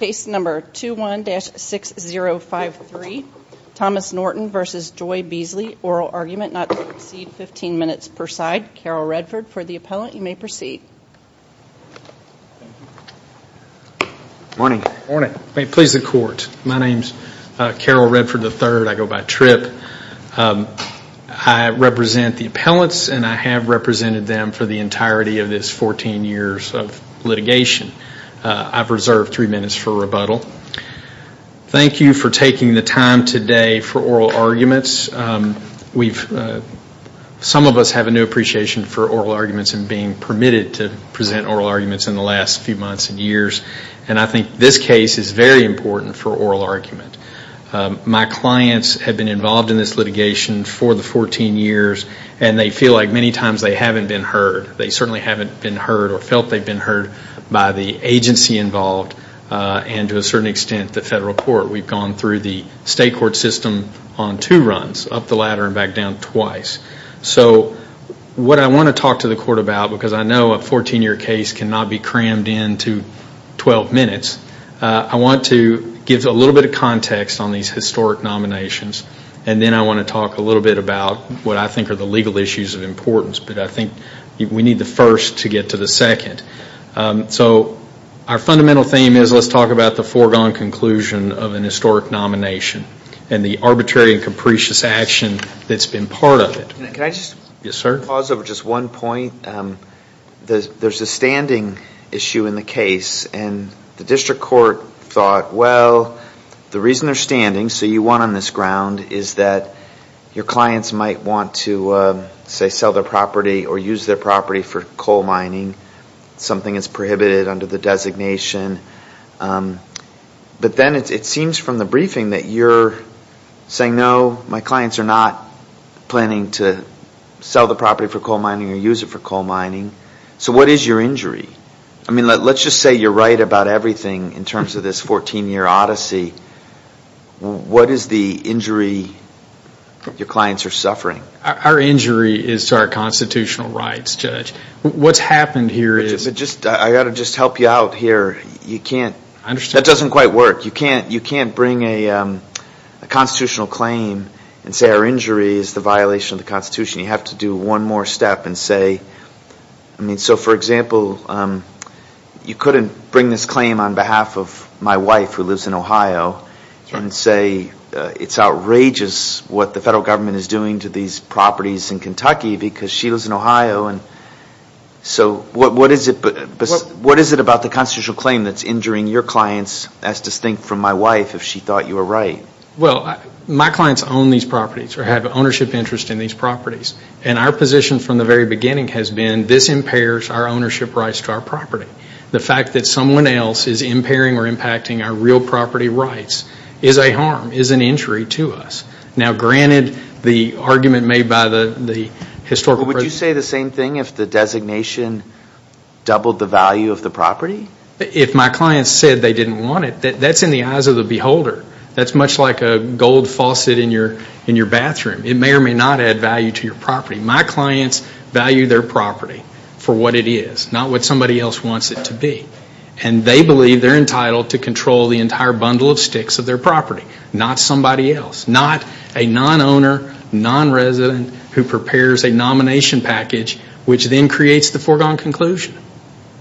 Case number 21-6053, Thomas Norton v. Joy Beasley, oral argument not to exceed 15 minutes per side, Carol Redford for the appellant, you may proceed. Please the court, my name is Carol Redford III, I go by Tripp. I represent the appellants and I have represented them for the entirety of this 14 years of litigation. I have reserved three minutes for rebuttal. Thank you for taking the time today for oral arguments. Some of us have a new appreciation for oral arguments and being permitted to present oral arguments in the last few months and years and I think this case is very important for oral argument. My clients have been involved in this litigation for the 14 years and they feel like many times they haven't been heard. They certainly haven't been heard or felt they've been heard by the agency involved and to a certain extent the federal court. We've gone through the state court system on two runs, up the ladder and back down twice. What I want to talk to the court about because I know a 14 year case cannot be crammed into 12 minutes. I want to give a little bit of context on these historic nominations and then I want to talk a little bit about what I think are the legal issues of importance. I think we need the first to get to the second. Our fundamental theme is let's talk about the foregone conclusion of an historic nomination and the arbitrary and capricious action that's been part of it. Can I just pause over just one point? There's a standing issue in the case and the district court thought well the reason they're standing, so you won on this ground, is that your clients might want to sell their property or use their property for coal mining, something that's prohibited under the designation. But then it seems from the briefing that you're saying no, my clients are not planning to sell the property for coal mining or use it for coal mining. So what is your injury? Let's just say you're right about everything in terms of this 14 year odyssey. What is the injury your clients are suffering? Our injury is to our constitutional rights, Judge. What's happened here is... I've got to just help you out here. You can't... I understand. That doesn't quite work. You have to do one more step and say... So for example, you couldn't bring this claim on behalf of my wife who lives in Ohio and say it's outrageous what the federal government is doing to these properties in Kentucky because she lives in Ohio. So what is it about the constitutional claim that's injuring your clients as distinct from my wife if she thought you were right? Well, my clients own these properties or have ownership interest in these properties. And our position from the very beginning has been this impairs our ownership rights to our property. The fact that someone else is impairing or impacting our real property rights is a harm, is an injury to us. Now granted the argument made by the historical... Would you say the same thing if the designation doubled the value of the property? If my clients said they didn't want it, that's in the eyes of the beholder. That's much like a gold faucet in your bathroom. It may or may not add value to your property. My clients value their property for what it is, not what somebody else wants it to be. And they believe they're entitled to control the entire bundle of sticks of their property, not somebody else. Not a non-owner, non-resident who prepares a nomination package which then creates the foregone conclusion.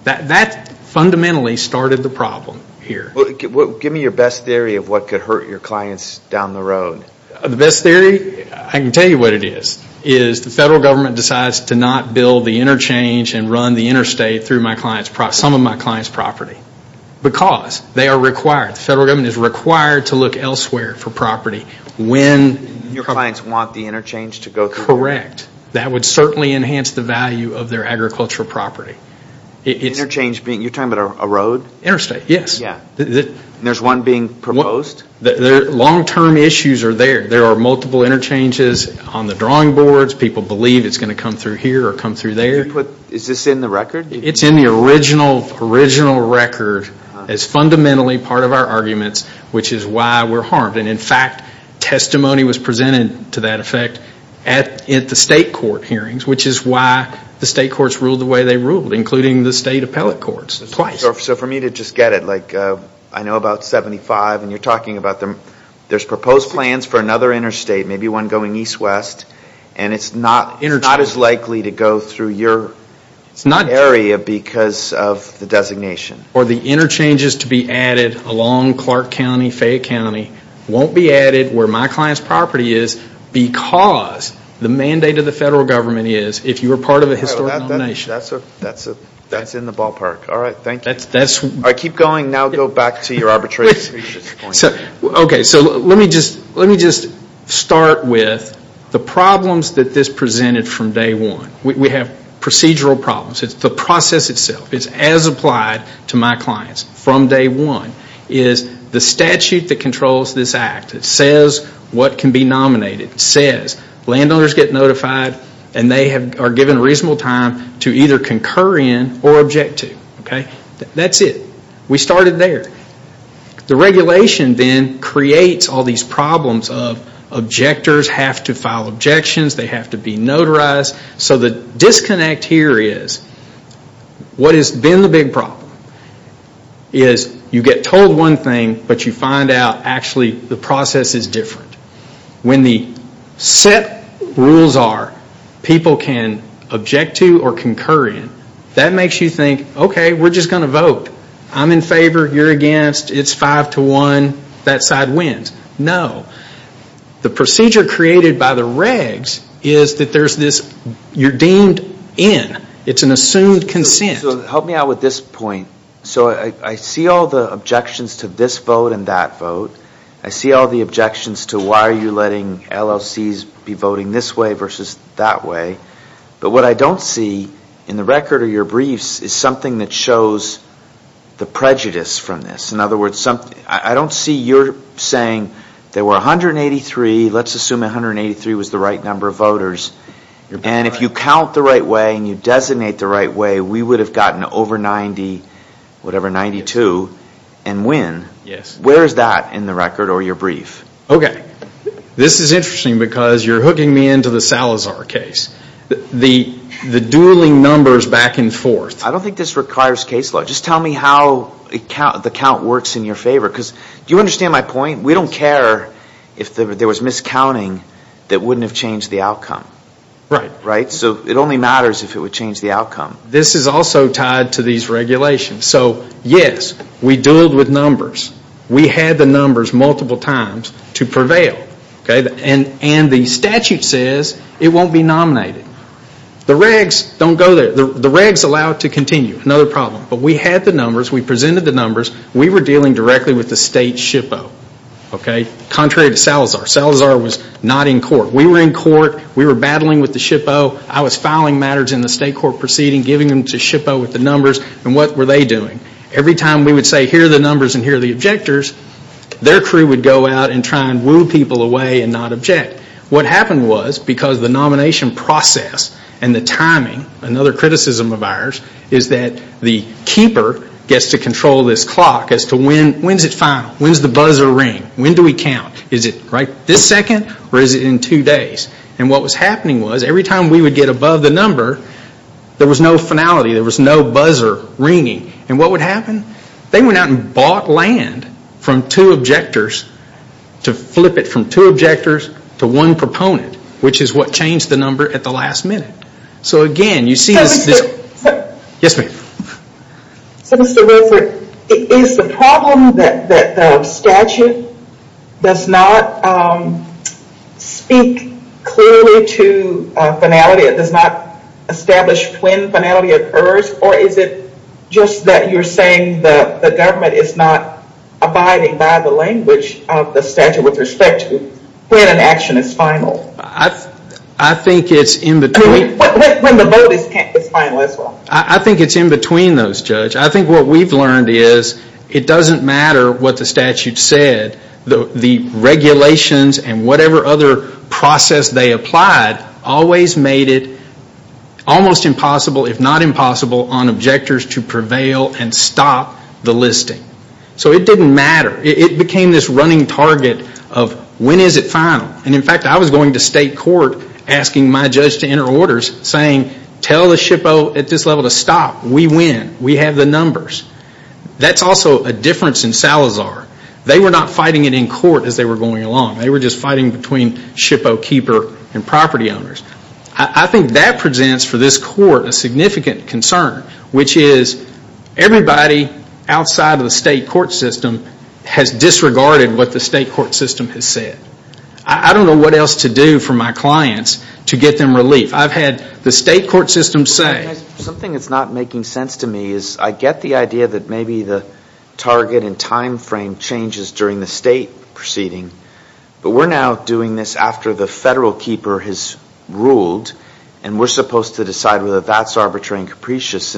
That fundamentally started the problem here. Give me your best theory of what could hurt your clients down the road. The best theory, I can tell you what it is. Is the federal government decides to not build the interchange and run the interstate through some of my clients' property. Because they are required, the federal government is required to look elsewhere for property. Your clients want the interchange to go through? Correct. That would certainly enhance the value of their agricultural property. You're talking about a road? Interstate, yes. There's one being proposed? Long-term issues are there. There are multiple interchanges on the drawing boards. People believe it's going to come through here or come through there. Is this in the record? It's in the original record as fundamentally part of our arguments, which is why we're harmed. In fact, testimony was presented to that effect at the state court hearings, which is why the state courts ruled the way they ruled, including the state appellate courts. For me to just get it, I know about 75 and you're talking about them. There's proposed plans for another interstate, maybe one going east-west, and it's not as likely to go through your area because of the designation. Or the interchanges to be added along Clark County, Fayette County, won't be added where my client's property is because the mandate of the federal government is, if you were part of a historic nomination. That's in the ballpark. All right, thank you. All right, keep going. Now go back to your arbitration point. Okay, so let me just start with the problems that this presented from day one. We have procedural problems. It's the process itself. It's as applied to my clients from day one. It is the statute that controls this act. It says what can be nominated. Landowners get notified and they are given reasonable time to either concur in or object to. That's it. We started there. The regulation then creates all these problems of objectors have to file objections, they have to be notarized. So the disconnect here is what has been the big problem is you get told one thing, but you find out actually the process is different. When the set rules are people can object to or concur in, that makes you think, okay, we're just going to vote. I'm in favor. You're against. It's five to one. That side wins. No. The procedure created by the regs is that you're deemed in. It's an assumed consent. So help me out with this point. So I see all the objections to this vote and that vote. I see all the objections to why are you letting LLCs be voting this way versus that way. But what I don't see in the record of your briefs is something that shows the prejudice from this. In other words, I don't see your saying there were 183. Let's assume 183 was the right number of voters. And if you count the right way and you designate the right way, we would have gotten over 90, whatever, 92 and win. Yes. Where is that in the record or your brief? Okay. This is interesting because you're hooking me into the Salazar case. The dueling numbers back and forth. I don't think this requires case law. Just tell me how the count works in your favor. Do you understand my point? We don't care if there was miscounting that wouldn't have changed the outcome. Right. Right? So it only matters if it would change the outcome. This is also tied to these regulations. So, yes, we dueled with numbers. We had the numbers multiple times to prevail. And the statute says it won't be nominated. The regs don't go there. The regs allow it to continue. Another problem. But we had the numbers. We presented the numbers. We were dealing directly with the state SHPO. Contrary to Salazar. Salazar was not in court. We were in court. We were battling with the SHPO. I was filing matters in the state court proceeding, giving them to SHPO with the numbers. And what were they doing? Every time we would say, here are the numbers and here are the objectors, their crew would go out and try and woo people away and not object. What happened was because the nomination process and the timing, another criticism of ours, is that the keeper gets to control this clock as to when is it final. When does the buzzer ring? When do we count? Is it this second or is it in two days? And what was happening was every time we would get above the number, there was no finality. There was no buzzer ringing. And what would happen? They went out and bought land from two objectors to flip it from two objectors to one proponent, which is what changed the number at the last minute. So, again, you see this. Yes, ma'am. So, Mr. Wilford, is the problem that the statute does not speak clearly to finality? It does not establish when finality occurs? Or is it just that you're saying the government is not abiding by the language of the statute with respect to when an action is final? I think it's in between. I mean, when the vote is final as well. I think it's in between those, Judge. I think what we've learned is it doesn't matter what the statute said. The regulations and whatever other process they applied always made it almost impossible, if not impossible, on objectors to prevail and stop the listing. So it didn't matter. It became this running target of when is it final? And, in fact, I was going to state court asking my judge to enter orders saying, tell the SHPO at this level to stop. We win. We have the numbers. That's also a difference in Salazar. They were not fighting it in court as they were going along. They were just fighting between SHPO keeper and property owners. I think that presents for this court a significant concern, which is everybody outside of the state court system has disregarded what the state court system has said. I don't know what else to do for my clients to get them relief. I've had the state court system say. Something that's not making sense to me is I get the idea that maybe the target and time frame changes during the state proceeding, but we're now doing this after the federal keeper has ruled, and we're supposed to decide whether that's arbitrary and capricious.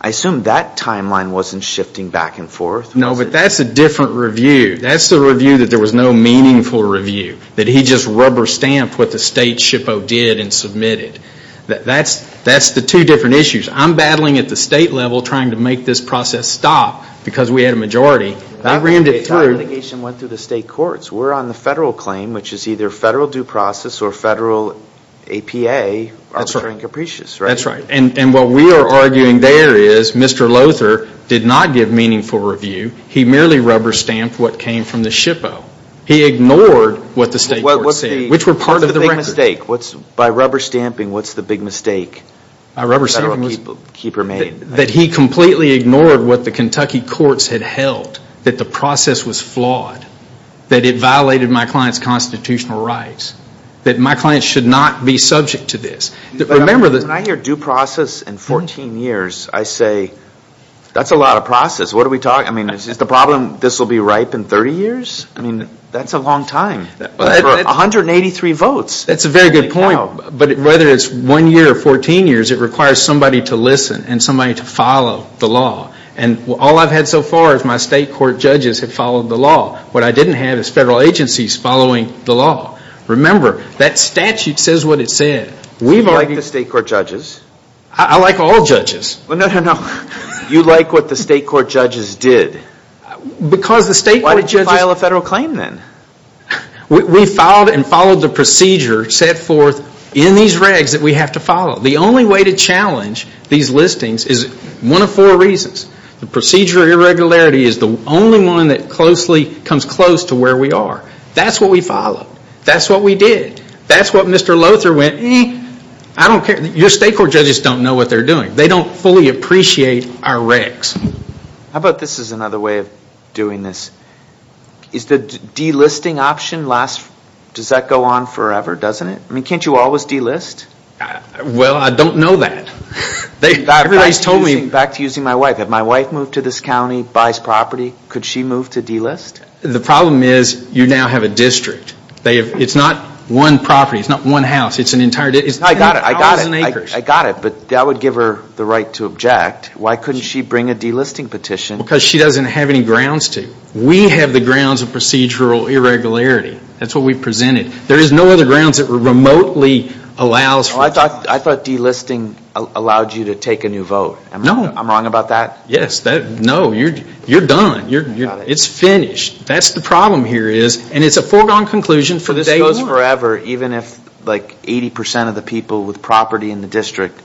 I assume that timeline wasn't shifting back and forth. No, but that's a different review. That's the review that there was no meaningful review, that he just rubber stamped what the state SHPO did and submitted. That's the two different issues. I'm battling at the state level trying to make this process stop because we had a majority. The time litigation went through the state courts. We're on the federal claim, which is either federal due process or federal APA, arbitrary and capricious. That's right, and what we are arguing there is Mr. Lother did not give meaningful review. He merely rubber stamped what came from the SHPO. He ignored what the state court said, which were part of the record. By rubber stamping, what's the big mistake that the federal keeper made? That he completely ignored what the Kentucky courts had held, that the process was flawed, that it violated my client's constitutional rights, that my client should not be subject to this. Remember, when I hear due process in 14 years, I say that's a lot of process. Is the problem this will be ripe in 30 years? That's a long time. 183 votes. That's a very good point, but whether it's one year or 14 years, it requires somebody to listen and somebody to follow the law. All I've had so far is my state court judges have followed the law. What I didn't have is federal agencies following the law. Remember, that statute says what it said. You like the state court judges? I like all judges. You like what the state court judges did. Why did you file a federal claim then? We filed and followed the procedure set forth in these regs that we have to follow. The only way to challenge these listings is one of four reasons. The procedure irregularity is the only one that comes close to where we are. That's what we followed. That's what we did. That's what Mr. Lother went, eh, I don't care. Your state court judges don't know what they're doing. They don't fully appreciate our regs. How about this is another way of doing this. Is the delisting option, does that go on forever, doesn't it? I mean, can't you always delist? Well, I don't know that. Everybody's told me. Back to using my wife. If my wife moved to this county, buys property, could she move to delist? The problem is you now have a district. It's not one property. It's not one house. It's an entire district. I got it. I got it. I got it, but that would give her the right to object. Why couldn't she bring a delisting petition? Because she doesn't have any grounds to. We have the grounds of procedural irregularity. That's what we presented. There is no other grounds that remotely allows for time. I thought delisting allowed you to take a new vote. No. I'm wrong about that? Yes. No. You're done. It's finished. That's the problem here is, and it's a foregone conclusion, for this goes forever. But this goes forever even if like 80% of the people with property in the district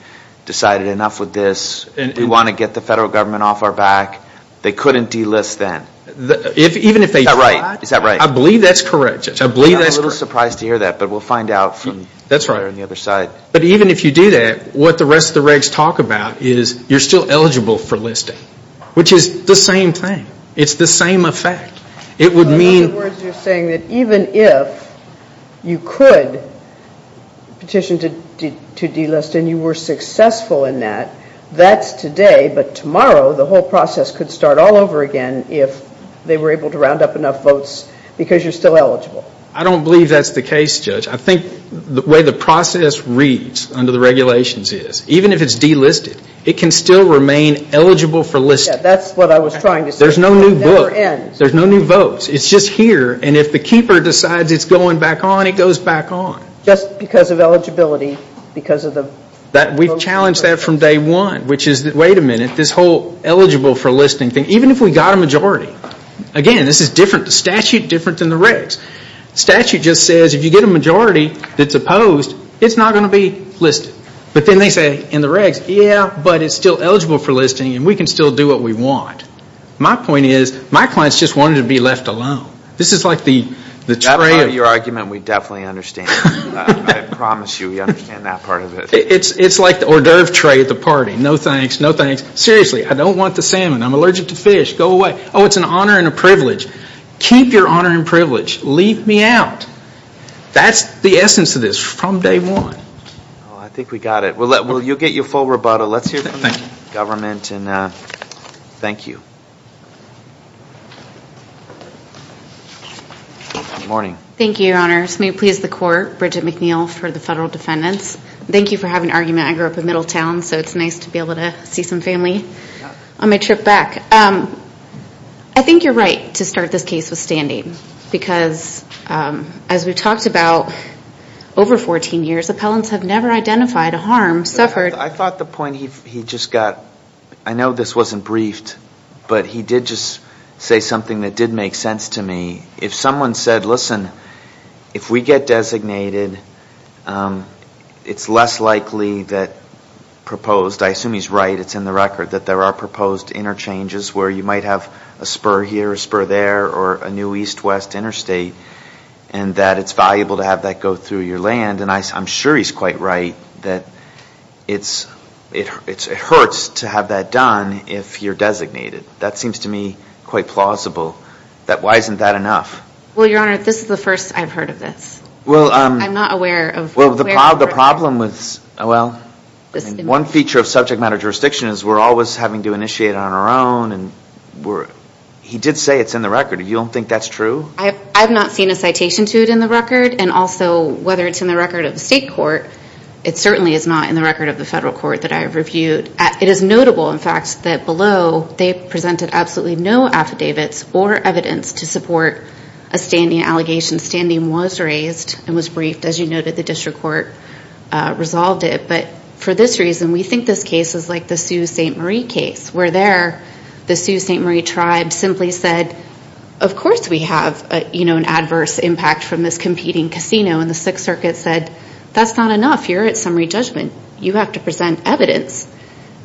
decided enough with this. We want to get the federal government off our back. They couldn't delist then. Is that right? Is that right? I believe that's correct, Judge. I believe that's correct. I'm a little surprised to hear that, but we'll find out from the other side. But even if you do that, what the rest of the regs talk about is you're still eligible for listing, which is the same thing. It's the same effect. In other words, you're saying that even if you could petition to delist and you were successful in that, that's today, but tomorrow the whole process could start all over again if they were able to round up enough votes because you're still eligible. I don't believe that's the case, Judge. I think the way the process reads under the regulations is even if it's delisted, it can still remain eligible for listing. That's what I was trying to say. It never ends. There's no new votes. It's just here, and if the keeper decides it's going back on, it goes back on. Just because of eligibility, because of the votes? We've challenged that from day one, which is, wait a minute, this whole eligible for listing thing, even if we got a majority. Again, this is different. The statute is different than the regs. The statute just says if you get a majority that's opposed, it's not going to be listed. But then they say in the regs, yeah, but it's still eligible for listing and we can still do what we want. My point is my clients just wanted to be left alone. This is like the tray. That part of your argument we definitely understand. I promise you we understand that part of it. It's like the hors d'oeuvre tray at the party. No thanks, no thanks. Seriously, I don't want the salmon. I'm allergic to fish. Go away. Oh, it's an honor and a privilege. Keep your honor and privilege. Leave me out. That's the essence of this from day one. I think we got it. You'll get your full rebuttal. Let's hear from the government. Thank you. Good morning. Thank you, Your Honor. May it please the court, Bridget McNeil for the federal defendants. Thank you for having an argument. I grew up in Middletown, so it's nice to be able to see some family on my trip back. I think you're right to start this case with standing because as we've talked about over 14 years, appellants have never identified a harm suffered. I thought the point he just got, I know this wasn't briefed, but he did just say something that did make sense to me. If someone said, listen, if we get designated, it's less likely that proposed, I assume he's right, it's in the record, that there are proposed interchanges where you might have a spur here, a spur there, or a new east-west interstate and that it's valuable to have that go through your land. I'm sure he's quite right that it hurts to have that done if you're designated. That seems to me quite plausible. Why isn't that enough? Well, Your Honor, this is the first I've heard of this. I'm not aware of where the record is. One feature of subject matter jurisdiction is we're always having to initiate on our own. He did say it's in the record. You don't think that's true? I've not seen a citation to it in the record. And also, whether it's in the record of the state court, it certainly is not in the record of the federal court that I've reviewed. It is notable, in fact, that below they presented absolutely no affidavits or evidence to support a standing allegation. Standing was raised and was briefed. As you noted, the district court resolved it. But for this reason, we think this case is like the Sault Ste. Marie case where there the Sault Ste. Marie tribe simply said, of course we have an adverse impact from this competing casino. And the Sixth Circuit said, that's not enough. You're at summary judgment. You have to present evidence.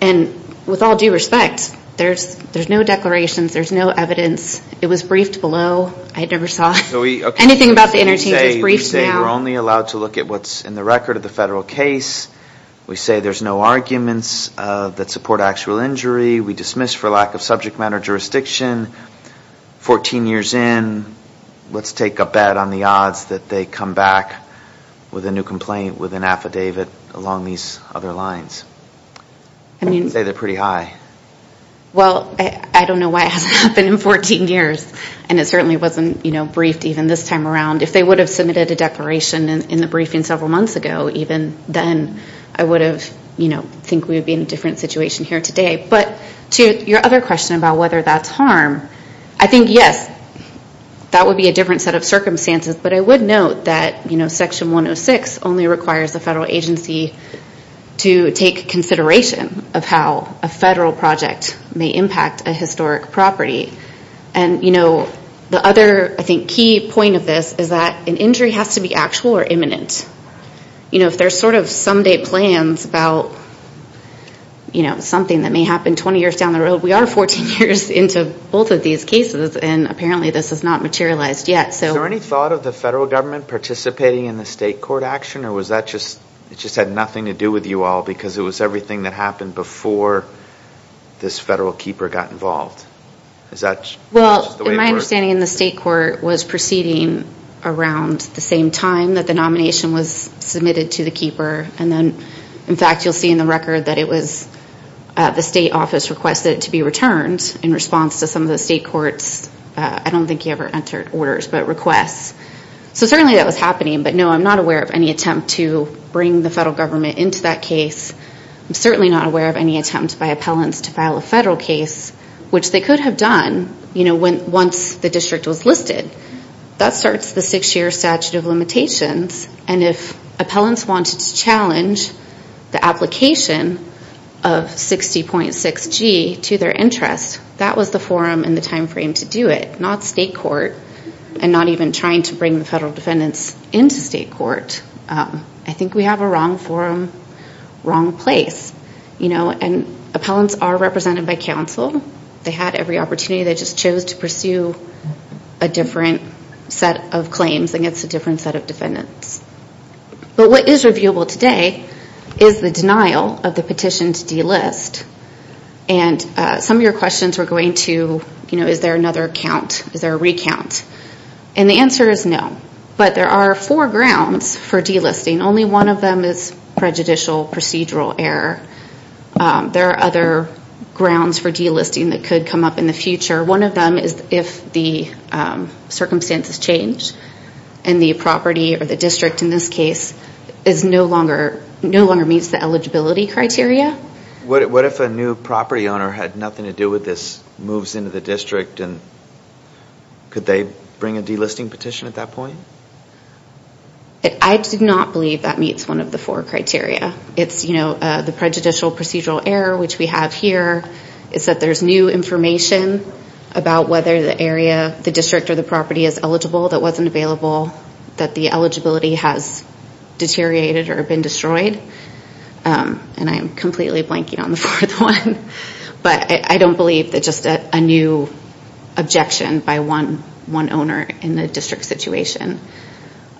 And with all due respect, there's no declarations. There's no evidence. It was briefed below. I never saw anything about the interchange. It was briefed now. We say we're only allowed to look at what's in the record of the federal case. We say there's no arguments that support actual injury. We dismiss for lack of subject matter jurisdiction. Fourteen years in, let's take a bet on the odds that they come back with a new complaint with an affidavit along these other lines. I'd say they're pretty high. Well, I don't know why it hasn't happened in 14 years. And it certainly wasn't briefed even this time around. If they would have submitted a declaration in the briefing several months ago, even then, I would have, you know, think we would be in a different situation here today. But to your other question about whether that's harm, I think, yes, that would be a different set of circumstances. But I would note that Section 106 only requires the federal agency to take consideration of how a federal project may impact a historic property. And, you know, the other, I think, key point of this is that an injury has to be actual or imminent. You know, if there's sort of some day plans about, you know, something that may happen 20 years down the road, we are 14 years into both of these cases, and apparently this has not materialized yet. Is there any thought of the federal government participating in the state court action, or was that just, it just had nothing to do with you all because it was everything that happened before this federal keeper got involved? Well, my understanding in the state court was proceeding around the same time that the nomination was submitted to the keeper. And then, in fact, you'll see in the record that it was the state office requested it to be returned in response to some of the state court's, I don't think he ever entered orders, but requests. So certainly that was happening, but no, I'm not aware of any attempt to bring the federal government into that case. I'm certainly not aware of any attempt by appellants to file a federal case, which they could have done once the district was listed. That starts the six-year statute of limitations, and if appellants wanted to challenge the application of 60.6G to their interest, that was the forum and the time frame to do it, not state court, and not even trying to bring the federal defendants into state court. I think we have a wrong forum, wrong place. And appellants are represented by counsel. They had every opportunity. They just chose to pursue a different set of claims against a different set of defendants. But what is reviewable today is the denial of the petition to delist. And some of your questions were going to, you know, is there another count? Is there a recount? And the answer is no, but there are four grounds for delisting. And only one of them is prejudicial procedural error. There are other grounds for delisting that could come up in the future. One of them is if the circumstances change and the property or the district, in this case, no longer meets the eligibility criteria. What if a new property owner had nothing to do with this, moves into the district, and could they bring a delisting petition at that point? I do not believe that meets one of the four criteria. It's, you know, the prejudicial procedural error, which we have here, is that there's new information about whether the area, the district or the property is eligible that wasn't available, that the eligibility has deteriorated or been destroyed. And I'm completely blanking on the fourth one. But I don't believe that just a new objection by one owner in the district situation.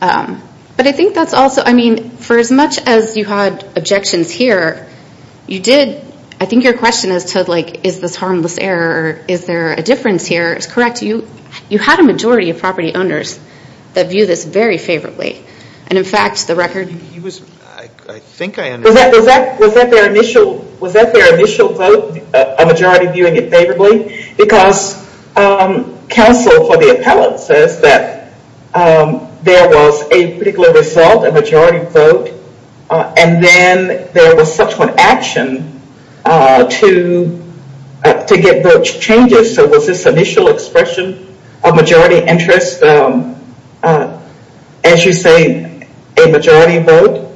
But I think that's also, I mean, for as much as you had objections here, you did, I think your question as to, like, is this harmless error, is there a difference here, is correct. You had a majority of property owners that view this very favorably. And, in fact, the record. He was, I think I understand. Was that their initial vote, a majority viewing it favorably? Because counsel for the appellate says that there was a particular result, a majority vote. And then there was subsequent action to get vote changes. So was this initial expression of majority interest, as you say, a majority vote?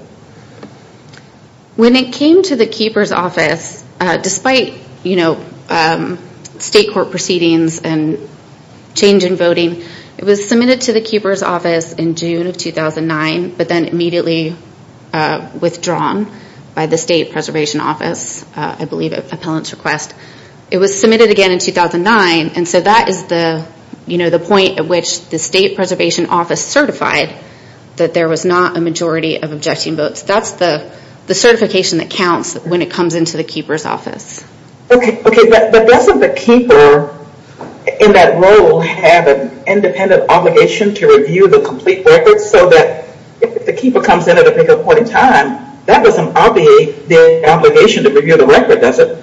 When it came to the Keeper's Office, despite state court proceedings and change in voting, it was submitted to the Keeper's Office in June of 2009, but then immediately withdrawn by the State Preservation Office, I believe, appellant's request. It was submitted again in 2009. And so that is the point at which the State Preservation Office certified that there was not a majority of objecting votes. That's the certification that counts when it comes into the Keeper's Office. Okay. But doesn't the Keeper, in that role, have an independent obligation to review the complete record so that if the Keeper comes in at a particular point in time, that doesn't obviate the obligation to review the record, does it?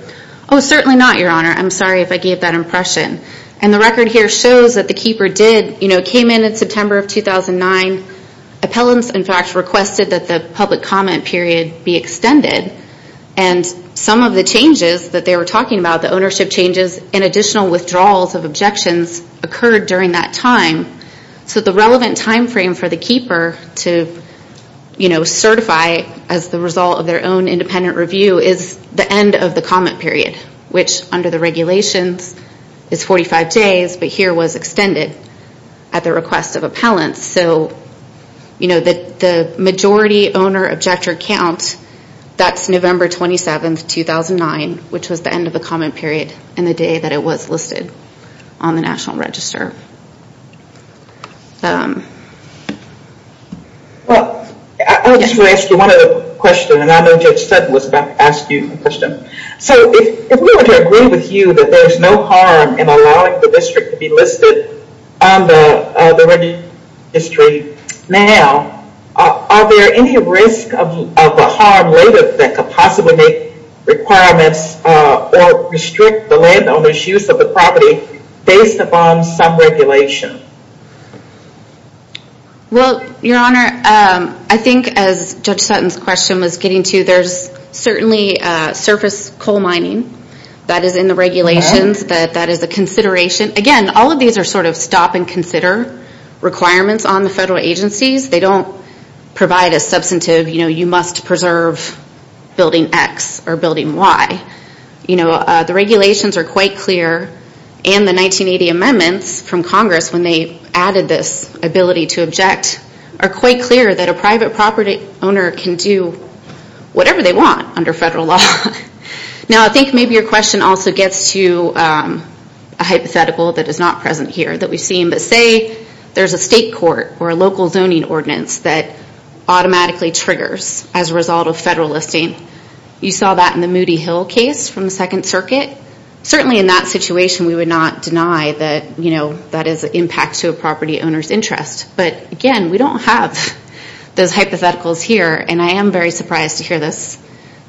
Oh, certainly not, Your Honor. I'm sorry if I gave that impression. And the record here shows that the Keeper did, you know, come in in September of 2009. Appellants, in fact, requested that the public comment period be extended. And some of the changes that they were talking about, the ownership changes and additional withdrawals of objections, occurred during that time. So the relevant time frame for the Keeper to, you know, certify as the result of their own independent review is the end of the comment period, which under the regulations is 45 days, but here was extended. At the request of appellants, so, you know, the majority owner objector count, that's November 27, 2009, which was the end of the comment period and the day that it was listed on the National Register. Well, I just want to ask you one other question, and I know Judge Sutton was about to ask you a question. So if we were to agree with you that there's no harm in allowing the district to be listed on the registry now, are there any risk of a harm later that could possibly make requirements or restrict the landowner's use of the property based upon some regulation? Well, Your Honor, I think as Judge Sutton's question was getting to, there's certainly surface coal mining that is in the regulations that that is a consideration. Again, all of these are sort of stop and consider requirements on the federal agencies. They don't provide a substantive, you know, you must preserve building X or building Y. You know, the regulations are quite clear and the 1980 amendments from Congress when they added this ability to object are quite clear that a private property owner can do whatever they want under federal law. Now, I think maybe your question also gets to a hypothetical that is not present here that we've seen, but say there's a state court or a local zoning ordinance that automatically triggers as a result of federal listing. You saw that in the Moody Hill case from the Second Circuit. Certainly in that situation, we would not deny that, you know, that is an impact to a property owner's interest. But again, we don't have those hypotheticals here, and I am very surprised to hear this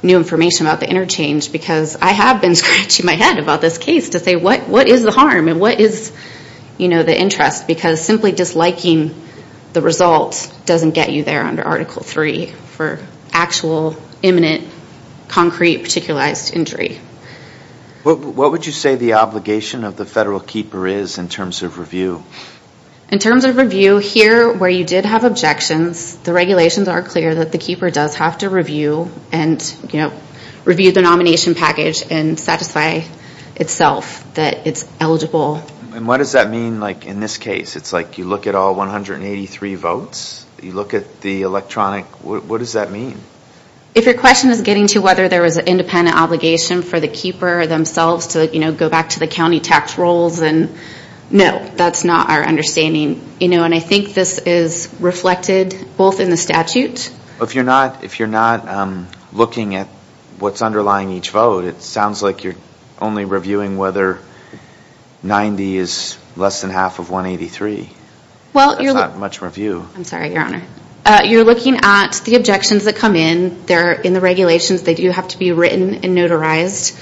new information about the interchange because I have been scratching my head about this case to say what is the harm and what is, you know, the interest because simply disliking the result doesn't get you there under Article III for actual, imminent, concrete, particularized injury. What would you say the obligation of the federal keeper is in terms of review? In terms of review, here where you did have objections, the regulations are clear that the keeper does have to review and, you know, review the nomination package and satisfy itself that it's eligible. And what does that mean, like, in this case? It's like you look at all 183 votes? You look at the electronic? What does that mean? If your question is getting to whether there was an independent obligation for the keeper themselves to, you know, go back to the county tax rolls, then no, that's not our understanding. You know, and I think this is reflected both in the statute. If you're not looking at what's underlying each vote, it sounds like you're only reviewing whether 90 is less than half of 183. That's not much review. I'm sorry, Your Honor. You're looking at the objections that come in. They're in the regulations. They do have to be written and notarized.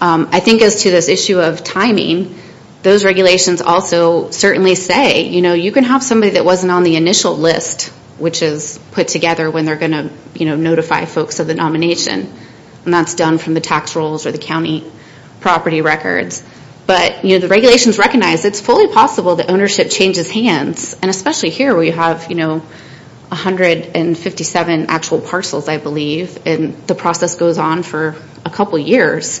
I think as to this issue of timing, those regulations also certainly say, you know, you can have somebody that wasn't on the initial list, which is put together when they're going to, you know, notify folks of the nomination. And that's done from the tax rolls or the county property records. But, you know, the regulations recognize it's fully possible that ownership changes hands, and especially here where you have, you know, 157 actual parcels, I believe, and the process goes on for a couple years.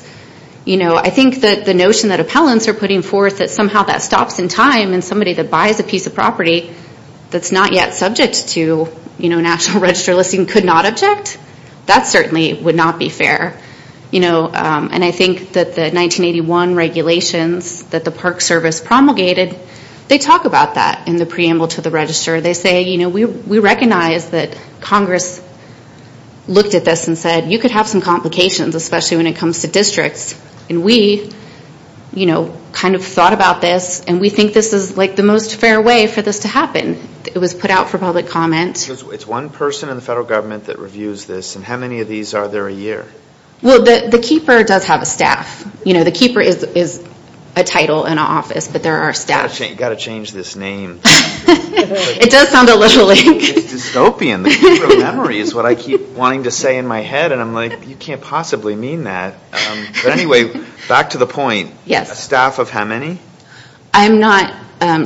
You know, I think that the notion that appellants are putting forth that somehow that stops in time, and somebody that buys a piece of property that's not yet subject to, you know, national register listing could not object, that certainly would not be fair. You know, and I think that the 1981 regulations that the Park Service promulgated, they talk about that in the preamble to the register. They say, you know, we recognize that Congress looked at this and said, you could have some complications, especially when it comes to districts. And we, you know, kind of thought about this, and we think this is like the most fair way for this to happen. It was put out for public comment. It's one person in the federal government that reviews this, and how many of these are there a year? Well, the Keeper does have a staff. You know, the Keeper is a title in our office, but there are staff. You've got to change this name. It does sound illiterate. It's dystopian. The Keeper of Memory is what I keep wanting to say in my head, and I'm like, you can't possibly mean that. But anyway, back to the point. A staff of how many? I'm not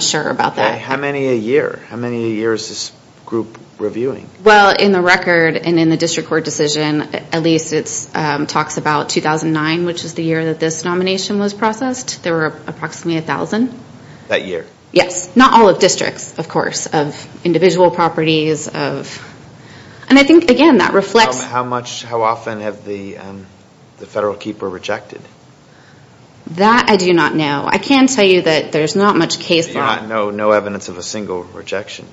sure about that. Okay, how many a year? How many a year is this group reviewing? Well, in the record, and in the district court decision, at least it talks about 2009, which is the year that this nomination was processed. There were approximately 1,000. That year? Yes. Not all of districts, of course. Of individual properties, of... And I think, again, that reflects... How often have the Federal Keeper rejected? That I do not know. I can tell you that there's not much case law... You do not know no evidence of a single rejection?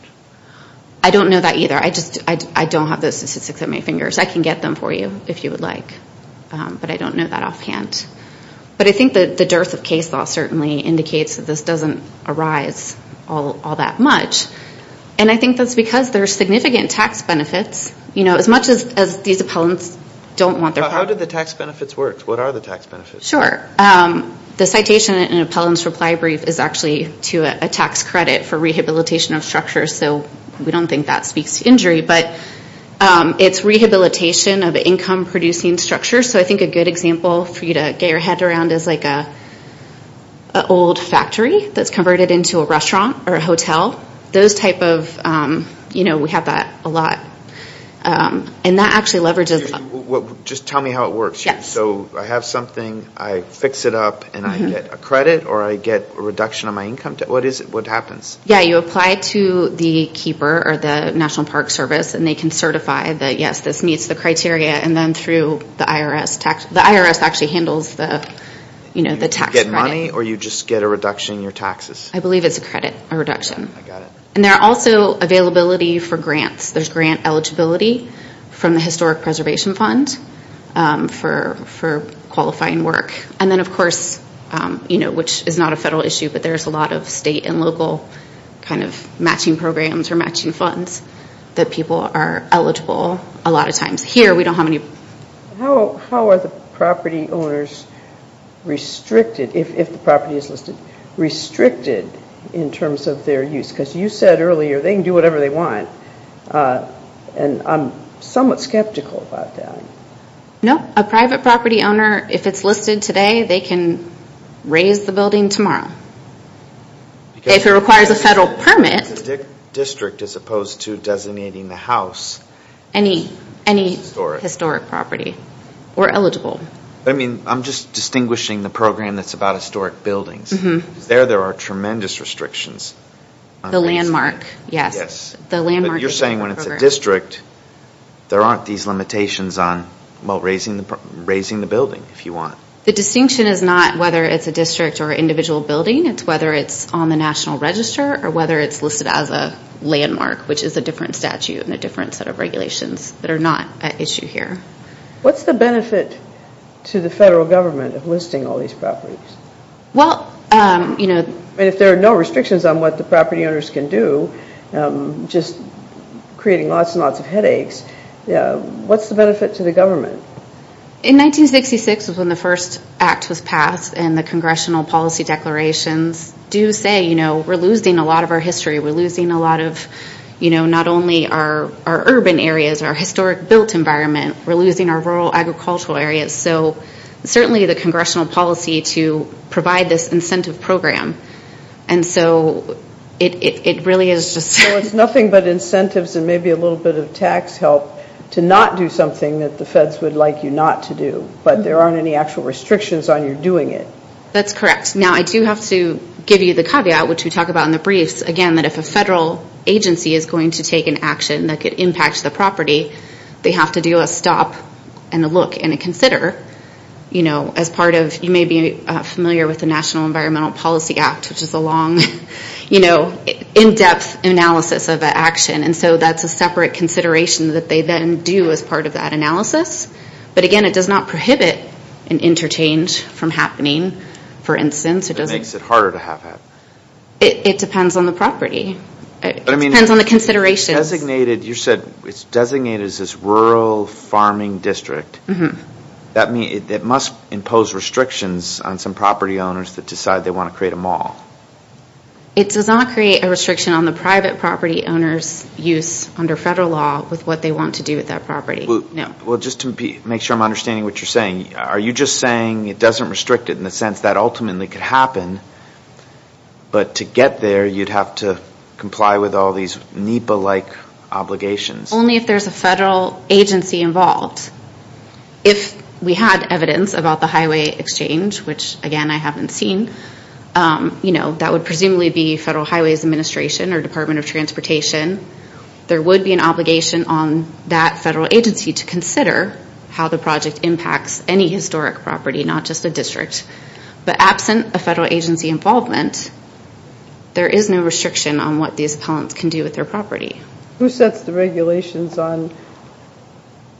I don't know that either. I don't have those statistics at my fingers. I can get them for you if you would like, but I don't know that offhand. But I think the dearth of case law certainly indicates that this doesn't arise all that much, and I think that's because there are significant tax benefits. As much as these appellants don't want their... How do the tax benefits work? What are the tax benefits? Sure. The citation in an appellant's reply brief is actually to a tax credit for rehabilitation of structures, so we don't think that speaks to injury, but it's rehabilitation of income-producing structures. So I think a good example for you to get your head around is like an old factory that's converted into a restaurant or a hotel. Those type of... And that actually leverages... Just tell me how it works. So I have something, I fix it up, and I get a credit, or I get a reduction of my income? What happens? Yeah, you apply to the keeper or the National Park Service, and they can certify that, yes, this meets the criteria, and then through the IRS... The IRS actually handles the tax credit. You get money, or you just get a reduction in your taxes? I got it. And there are also availability for grants. There's grant eligibility from the Historic Preservation Fund for qualifying work. And then, of course, which is not a federal issue, but there's a lot of state and local kind of matching programs or matching funds that people are eligible a lot of times. Here, we don't have any... How are the property owners restricted, if the property is listed, restricted in terms of their use? Because you said earlier they can do whatever they want, and I'm somewhat skeptical about that. No, a private property owner, if it's listed today, they can raise the building tomorrow. If it requires a federal permit... ...district as opposed to designating the house... ...any historic property, we're eligible. I mean, I'm just distinguishing the program that's about historic buildings. There, there are tremendous restrictions. The landmark, yes. But you're saying when it's a district, there aren't these limitations on raising the building, if you want. The distinction is not whether it's a district or an individual building. It's whether it's on the National Register or whether it's listed as a landmark, which is a different statute and a different set of regulations that are not an issue here. What's the benefit to the federal government of listing all these properties? Well, you know... If there are no restrictions on what the property owners can do, just creating lots and lots of headaches, what's the benefit to the government? In 1966, when the first act was passed and the Congressional Policy Declarations do say, you know, we're losing a lot of our history. We're losing a lot of, you know, not only our urban areas, our historic built environment, we're losing our rural agricultural areas. So certainly the Congressional Policy to provide this incentive program. And so it really is just... So it's nothing but incentives and maybe a little bit of tax help to not do something that the feds would like you not to do. But there aren't any actual restrictions on your doing it. That's correct. Now, I do have to give you the caveat, which we talk about in the briefs, again, that if a federal agency is going to take an action that could impact the property, they have to do a stop and a look and a consider. You know, as part of... You may be familiar with the National Environmental Policy Act, which is a long, you know, in-depth analysis of an action. And so that's a separate consideration that they then do as part of that analysis. But again, it does not prohibit an interchange from happening. For instance, it doesn't... It makes it harder to have that. It depends on the property. It depends on the considerations. You said it's designated as this rural farming district. That means it must impose restrictions on some property owners that decide they want to create a mall. It does not create a restriction on the private property owners' use under federal law with what they want to do with that property. Well, just to make sure I'm understanding what you're saying, are you just saying it doesn't restrict it in the sense that ultimately could happen, but to get there, you'd have to comply with all these NEPA-like obligations? Only if there's a federal agency involved. If we had evidence about the highway exchange, which, again, I haven't seen, you know, that would presumably be Federal Highways Administration or Department of Transportation. There would be an obligation on that federal agency to consider how the project impacts any historic property, not just the district. But absent a federal agency involvement, there is no restriction on what these appellants can do with their property. Who sets the regulations on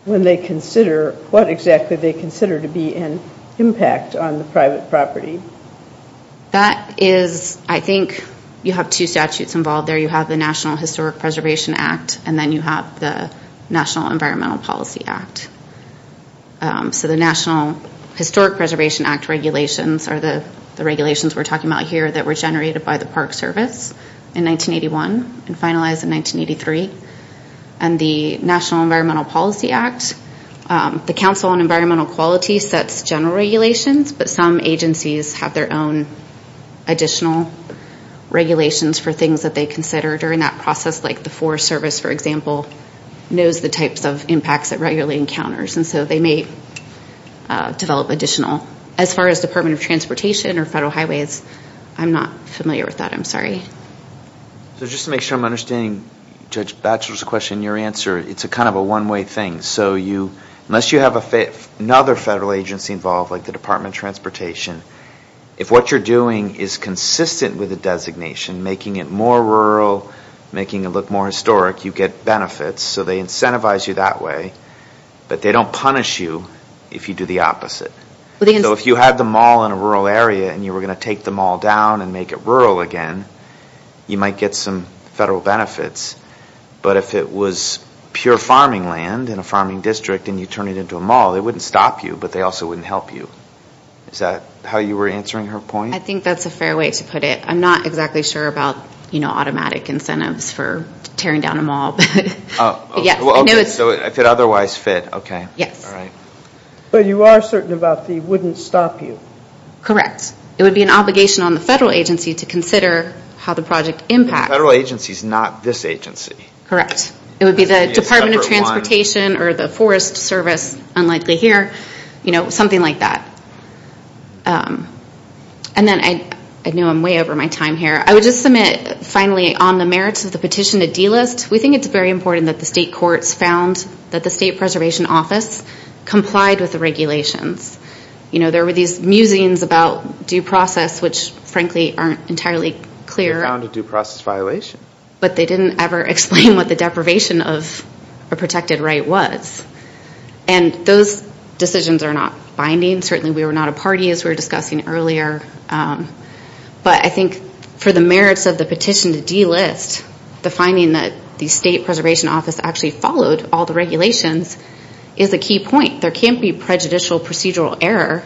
when they consider, what exactly they consider to be an impact on the private property? That is, I think, you have two statutes involved there. You have the National Historic Preservation Act and then you have the National Environmental Policy Act. So the National Historic Preservation Act regulations are the regulations we're talking about here that were generated by the Park Service in 1981 and finalized in 1983. And the National Environmental Policy Act, the Council on Environmental Quality sets general regulations, but some agencies have their own additional regulations for things that they consider during that process, like the Forest Service, for example, knows the types of impacts it regularly encounters, and so they may develop additional. As far as Department of Transportation or Federal Highways, I'm not familiar with that, I'm sorry. So just to make sure I'm understanding Judge Batchelor's question, your answer, it's kind of a one-way thing. So unless you have another federal agency involved, like the Department of Transportation, if what you're doing is consistent with the designation, making it more rural, making it look more historic, you get benefits, so they incentivize you that way, but they don't punish you if you do the opposite. So if you had the mall in a rural area and you were going to take the mall down and make it rural again, you might get some federal benefits, but if it was pure farming land in a farming district and you turn it into a mall, it wouldn't stop you, but they also wouldn't help you. Is that how you were answering her point? I think that's a fair way to put it. I'm not exactly sure about automatic incentives for tearing down a mall, but yes. Okay, so if it otherwise fit, okay. Yes. All right. But you are certain about it wouldn't stop you? Correct. It would be an obligation on the federal agency to consider how the project impacts. The federal agency is not this agency. Correct. It would be the Department of Transportation or the Forest Service, unlikely here, something like that. And then I know I'm way over my time here. I would just submit, finally, on the merits of the petition, a D-list. We think it's very important that the state courts found that the State Preservation Office complied with the regulations. You know, there were these musings about due process, which frankly aren't entirely clear. They found a due process violation. But they didn't ever explain what the deprivation of a protected right was. And those decisions are not binding. Certainly we were not a party, as we were discussing earlier. But I think for the merits of the petition to D-list, the finding that the State Preservation Office actually followed all the regulations is a key point. There can't be prejudicial procedural error,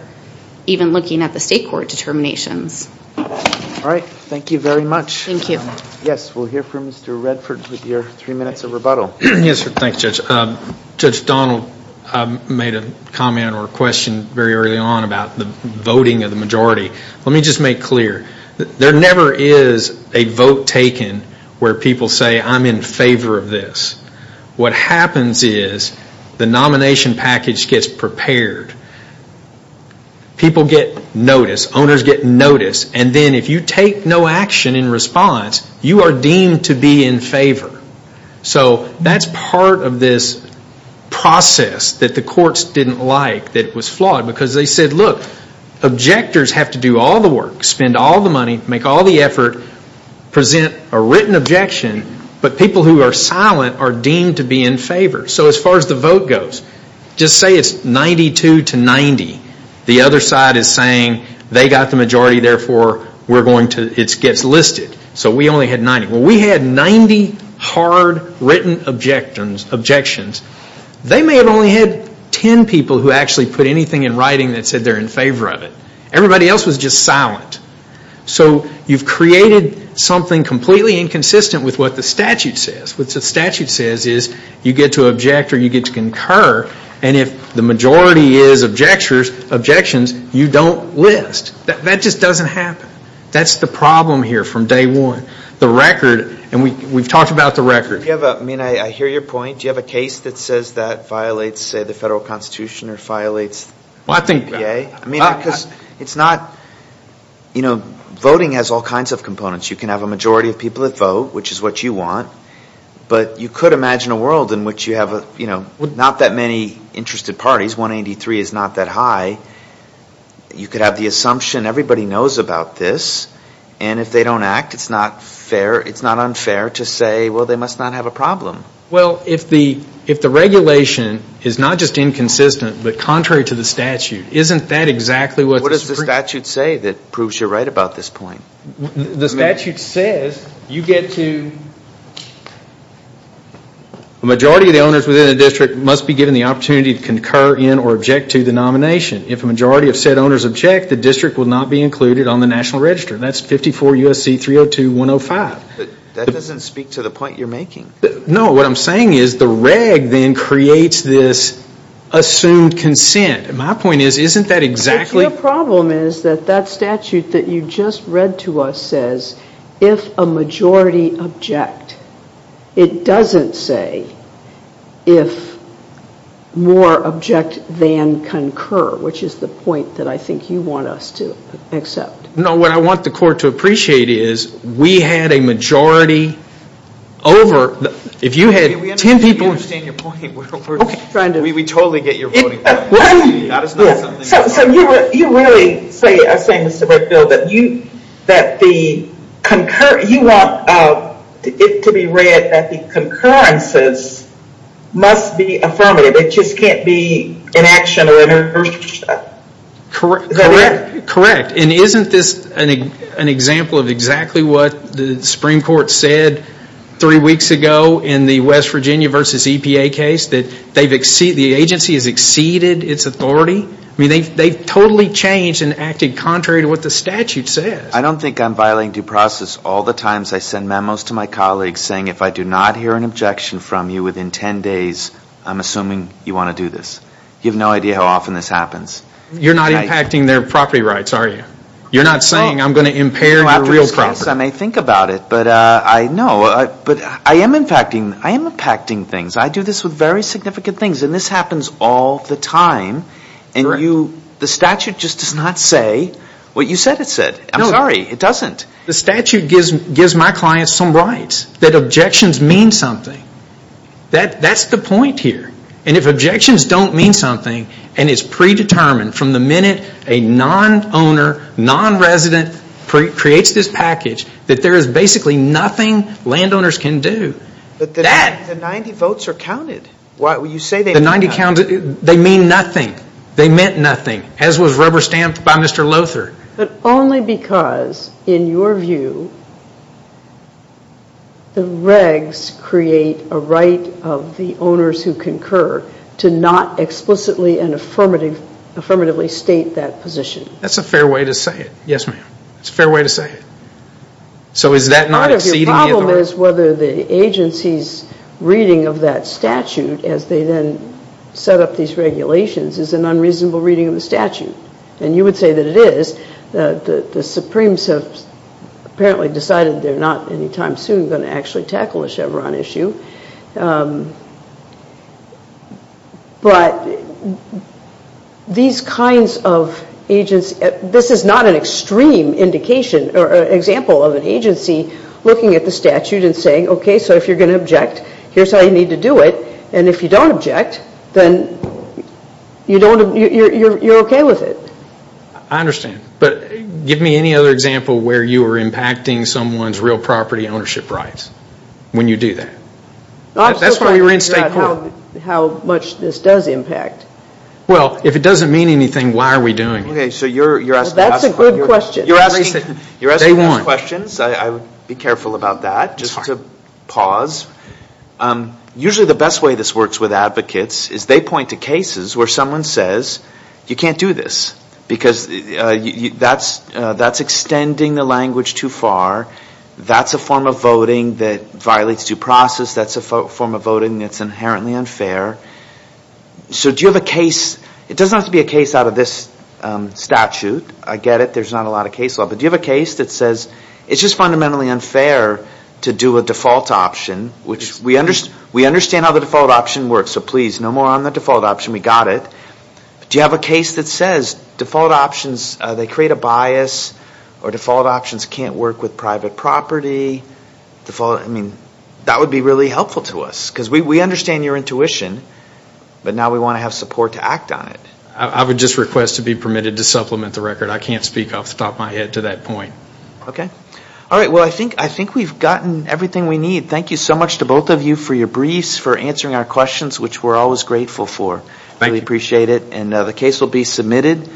even looking at the state court determinations. All right. Thank you very much. Thank you. Yes, we'll hear from Mr. Redford with your three minutes of rebuttal. Yes, sir. Thanks, Judge. Judge Donald made a comment or a question very early on about the voting of the majority. Let me just make clear. There never is a vote taken where people say, I'm in favor of this. What happens is the nomination package gets prepared. People get notice. Owners get notice. And then if you take no action in response, you are deemed to be in favor. So that's part of this process that the courts didn't like, that it was flawed. Because they said, look, objectors have to do all the work, spend all the money, make all the effort, present a written objection, but people who are silent are deemed to be in favor. So as far as the vote goes, just say it's 92 to 90. The other side is saying they got the majority, therefore it gets listed. So we only had 90. When we had 90 hard written objections, they may have only had 10 people who actually put anything in writing that said they're in favor of it. Everybody else was just silent. So you've created something completely inconsistent with what the statute says. What the statute says is you get to object or you get to concur, and if the majority is objections, you don't list. That just doesn't happen. That's the problem here from day one. The record, and we've talked about the record. I mean, I hear your point. Do you have a case that says that violates, say, the federal constitution or violates the EPA? I mean, because it's not, you know, voting has all kinds of components. You can have a majority of people that vote, which is what you want, but you could imagine a world in which you have, you know, not that many interested parties. 183 is not that high. You could have the assumption everybody knows about this, and if they don't act, it's not unfair to say, well, they must not have a problem. Well, if the regulation is not just inconsistent but contrary to the statute, isn't that exactly what the statute says? What does the statute say that proves you're right about this point? The statute says you get to, the majority of the owners within a district must be given the opportunity to concur in or object to the nomination. If a majority of said owners object, the district will not be included on the national register. That's 54 U.S.C. 302.105. That doesn't speak to the point you're making. No. What I'm saying is the reg then creates this assumed consent. My point is, isn't that exactly? Your problem is that that statute that you just read to us says, if a majority object, it doesn't say if more object than concur, which is the point that I think you want us to accept. No. What I want the court to appreciate is, we had a majority over. If you had 10 people. We understand your point. We totally get your point. That is not something. You really say, I say, Mr. Brookfield, that you want it to be read that the concurrences must be affirmative. It just can't be an action of inertia. Correct. Correct. Isn't this an example of exactly what the Supreme Court said three weeks ago in the West Virginia versus EPA case, that the agency has exceeded its authority? They totally changed and acted contrary to what the statute says. I don't think I'm violating due process. All the times I send memos to my colleagues saying, if I do not hear an objection from you within 10 days, I'm assuming you want to do this. You have no idea how often this happens. You're not impacting their property rights, are you? You're not saying, I'm going to impair your real property. After this case, I may think about it. But I am impacting things. I do this with very significant things. This happens all the time. The statute just does not say what you said it said. I'm sorry. It doesn't. The statute gives my clients some rights. That objections mean something. That's the point here. And if objections don't mean something, and it's predetermined from the minute a non-owner, non-resident creates this package, that there is basically nothing landowners can do. But the 90 votes are counted. The 90 counted, they mean nothing. They meant nothing, as was rubber-stamped by Mr. Lothert. But only because, in your view, the regs create a right of the owners who concur to not explicitly and affirmatively state that position. That's a fair way to say it. Yes, ma'am. It's a fair way to say it. So is that not exceeding the authority? Part of your problem is whether the agency's reading of that statute, as they then set up these regulations, is an unreasonable reading of the statute. And you would say that it is. The Supremes have apparently decided they're not any time soon going to actually tackle the Chevron issue. But these kinds of agencies, this is not an extreme example of an agency looking at the statute and saying, okay, so if you're going to object, here's how you need to do it. And if you don't object, then you're okay with it. I understand. But give me any other example where you were impacting someone's real property ownership rights when you do that. That's where you're in state court. I'm still trying to figure out how much this does impact. Well, if it doesn't mean anything, why are we doing it? That's a good question. You're asking those questions. I would be careful about that, just to pause. Usually the best way this works with advocates is they point to cases where someone says, you can't do this, because that's extending the language too far. That's a form of voting that violates due process. That's a form of voting that's inherently unfair. So do you have a case? It doesn't have to be a case out of this statute. I get it. There's not a lot of case law. But do you have a case that says, it's just fundamentally unfair to do a default option, which we understand how the default option works, so please, no more on the default option. We got it. Do you have a case that says default options, they create a bias, or default options can't work with private property. That would be really helpful to us, because we understand your intuition, but now we want to have support to act on it. I would just request to be permitted to supplement the record. I can't speak off the top of my head to that point. Okay. Well, I think we've gotten everything we need. Thank you so much to both of you for your briefs, for answering our questions, which we're always grateful for. Thank you. We appreciate it. And the case will be submitted.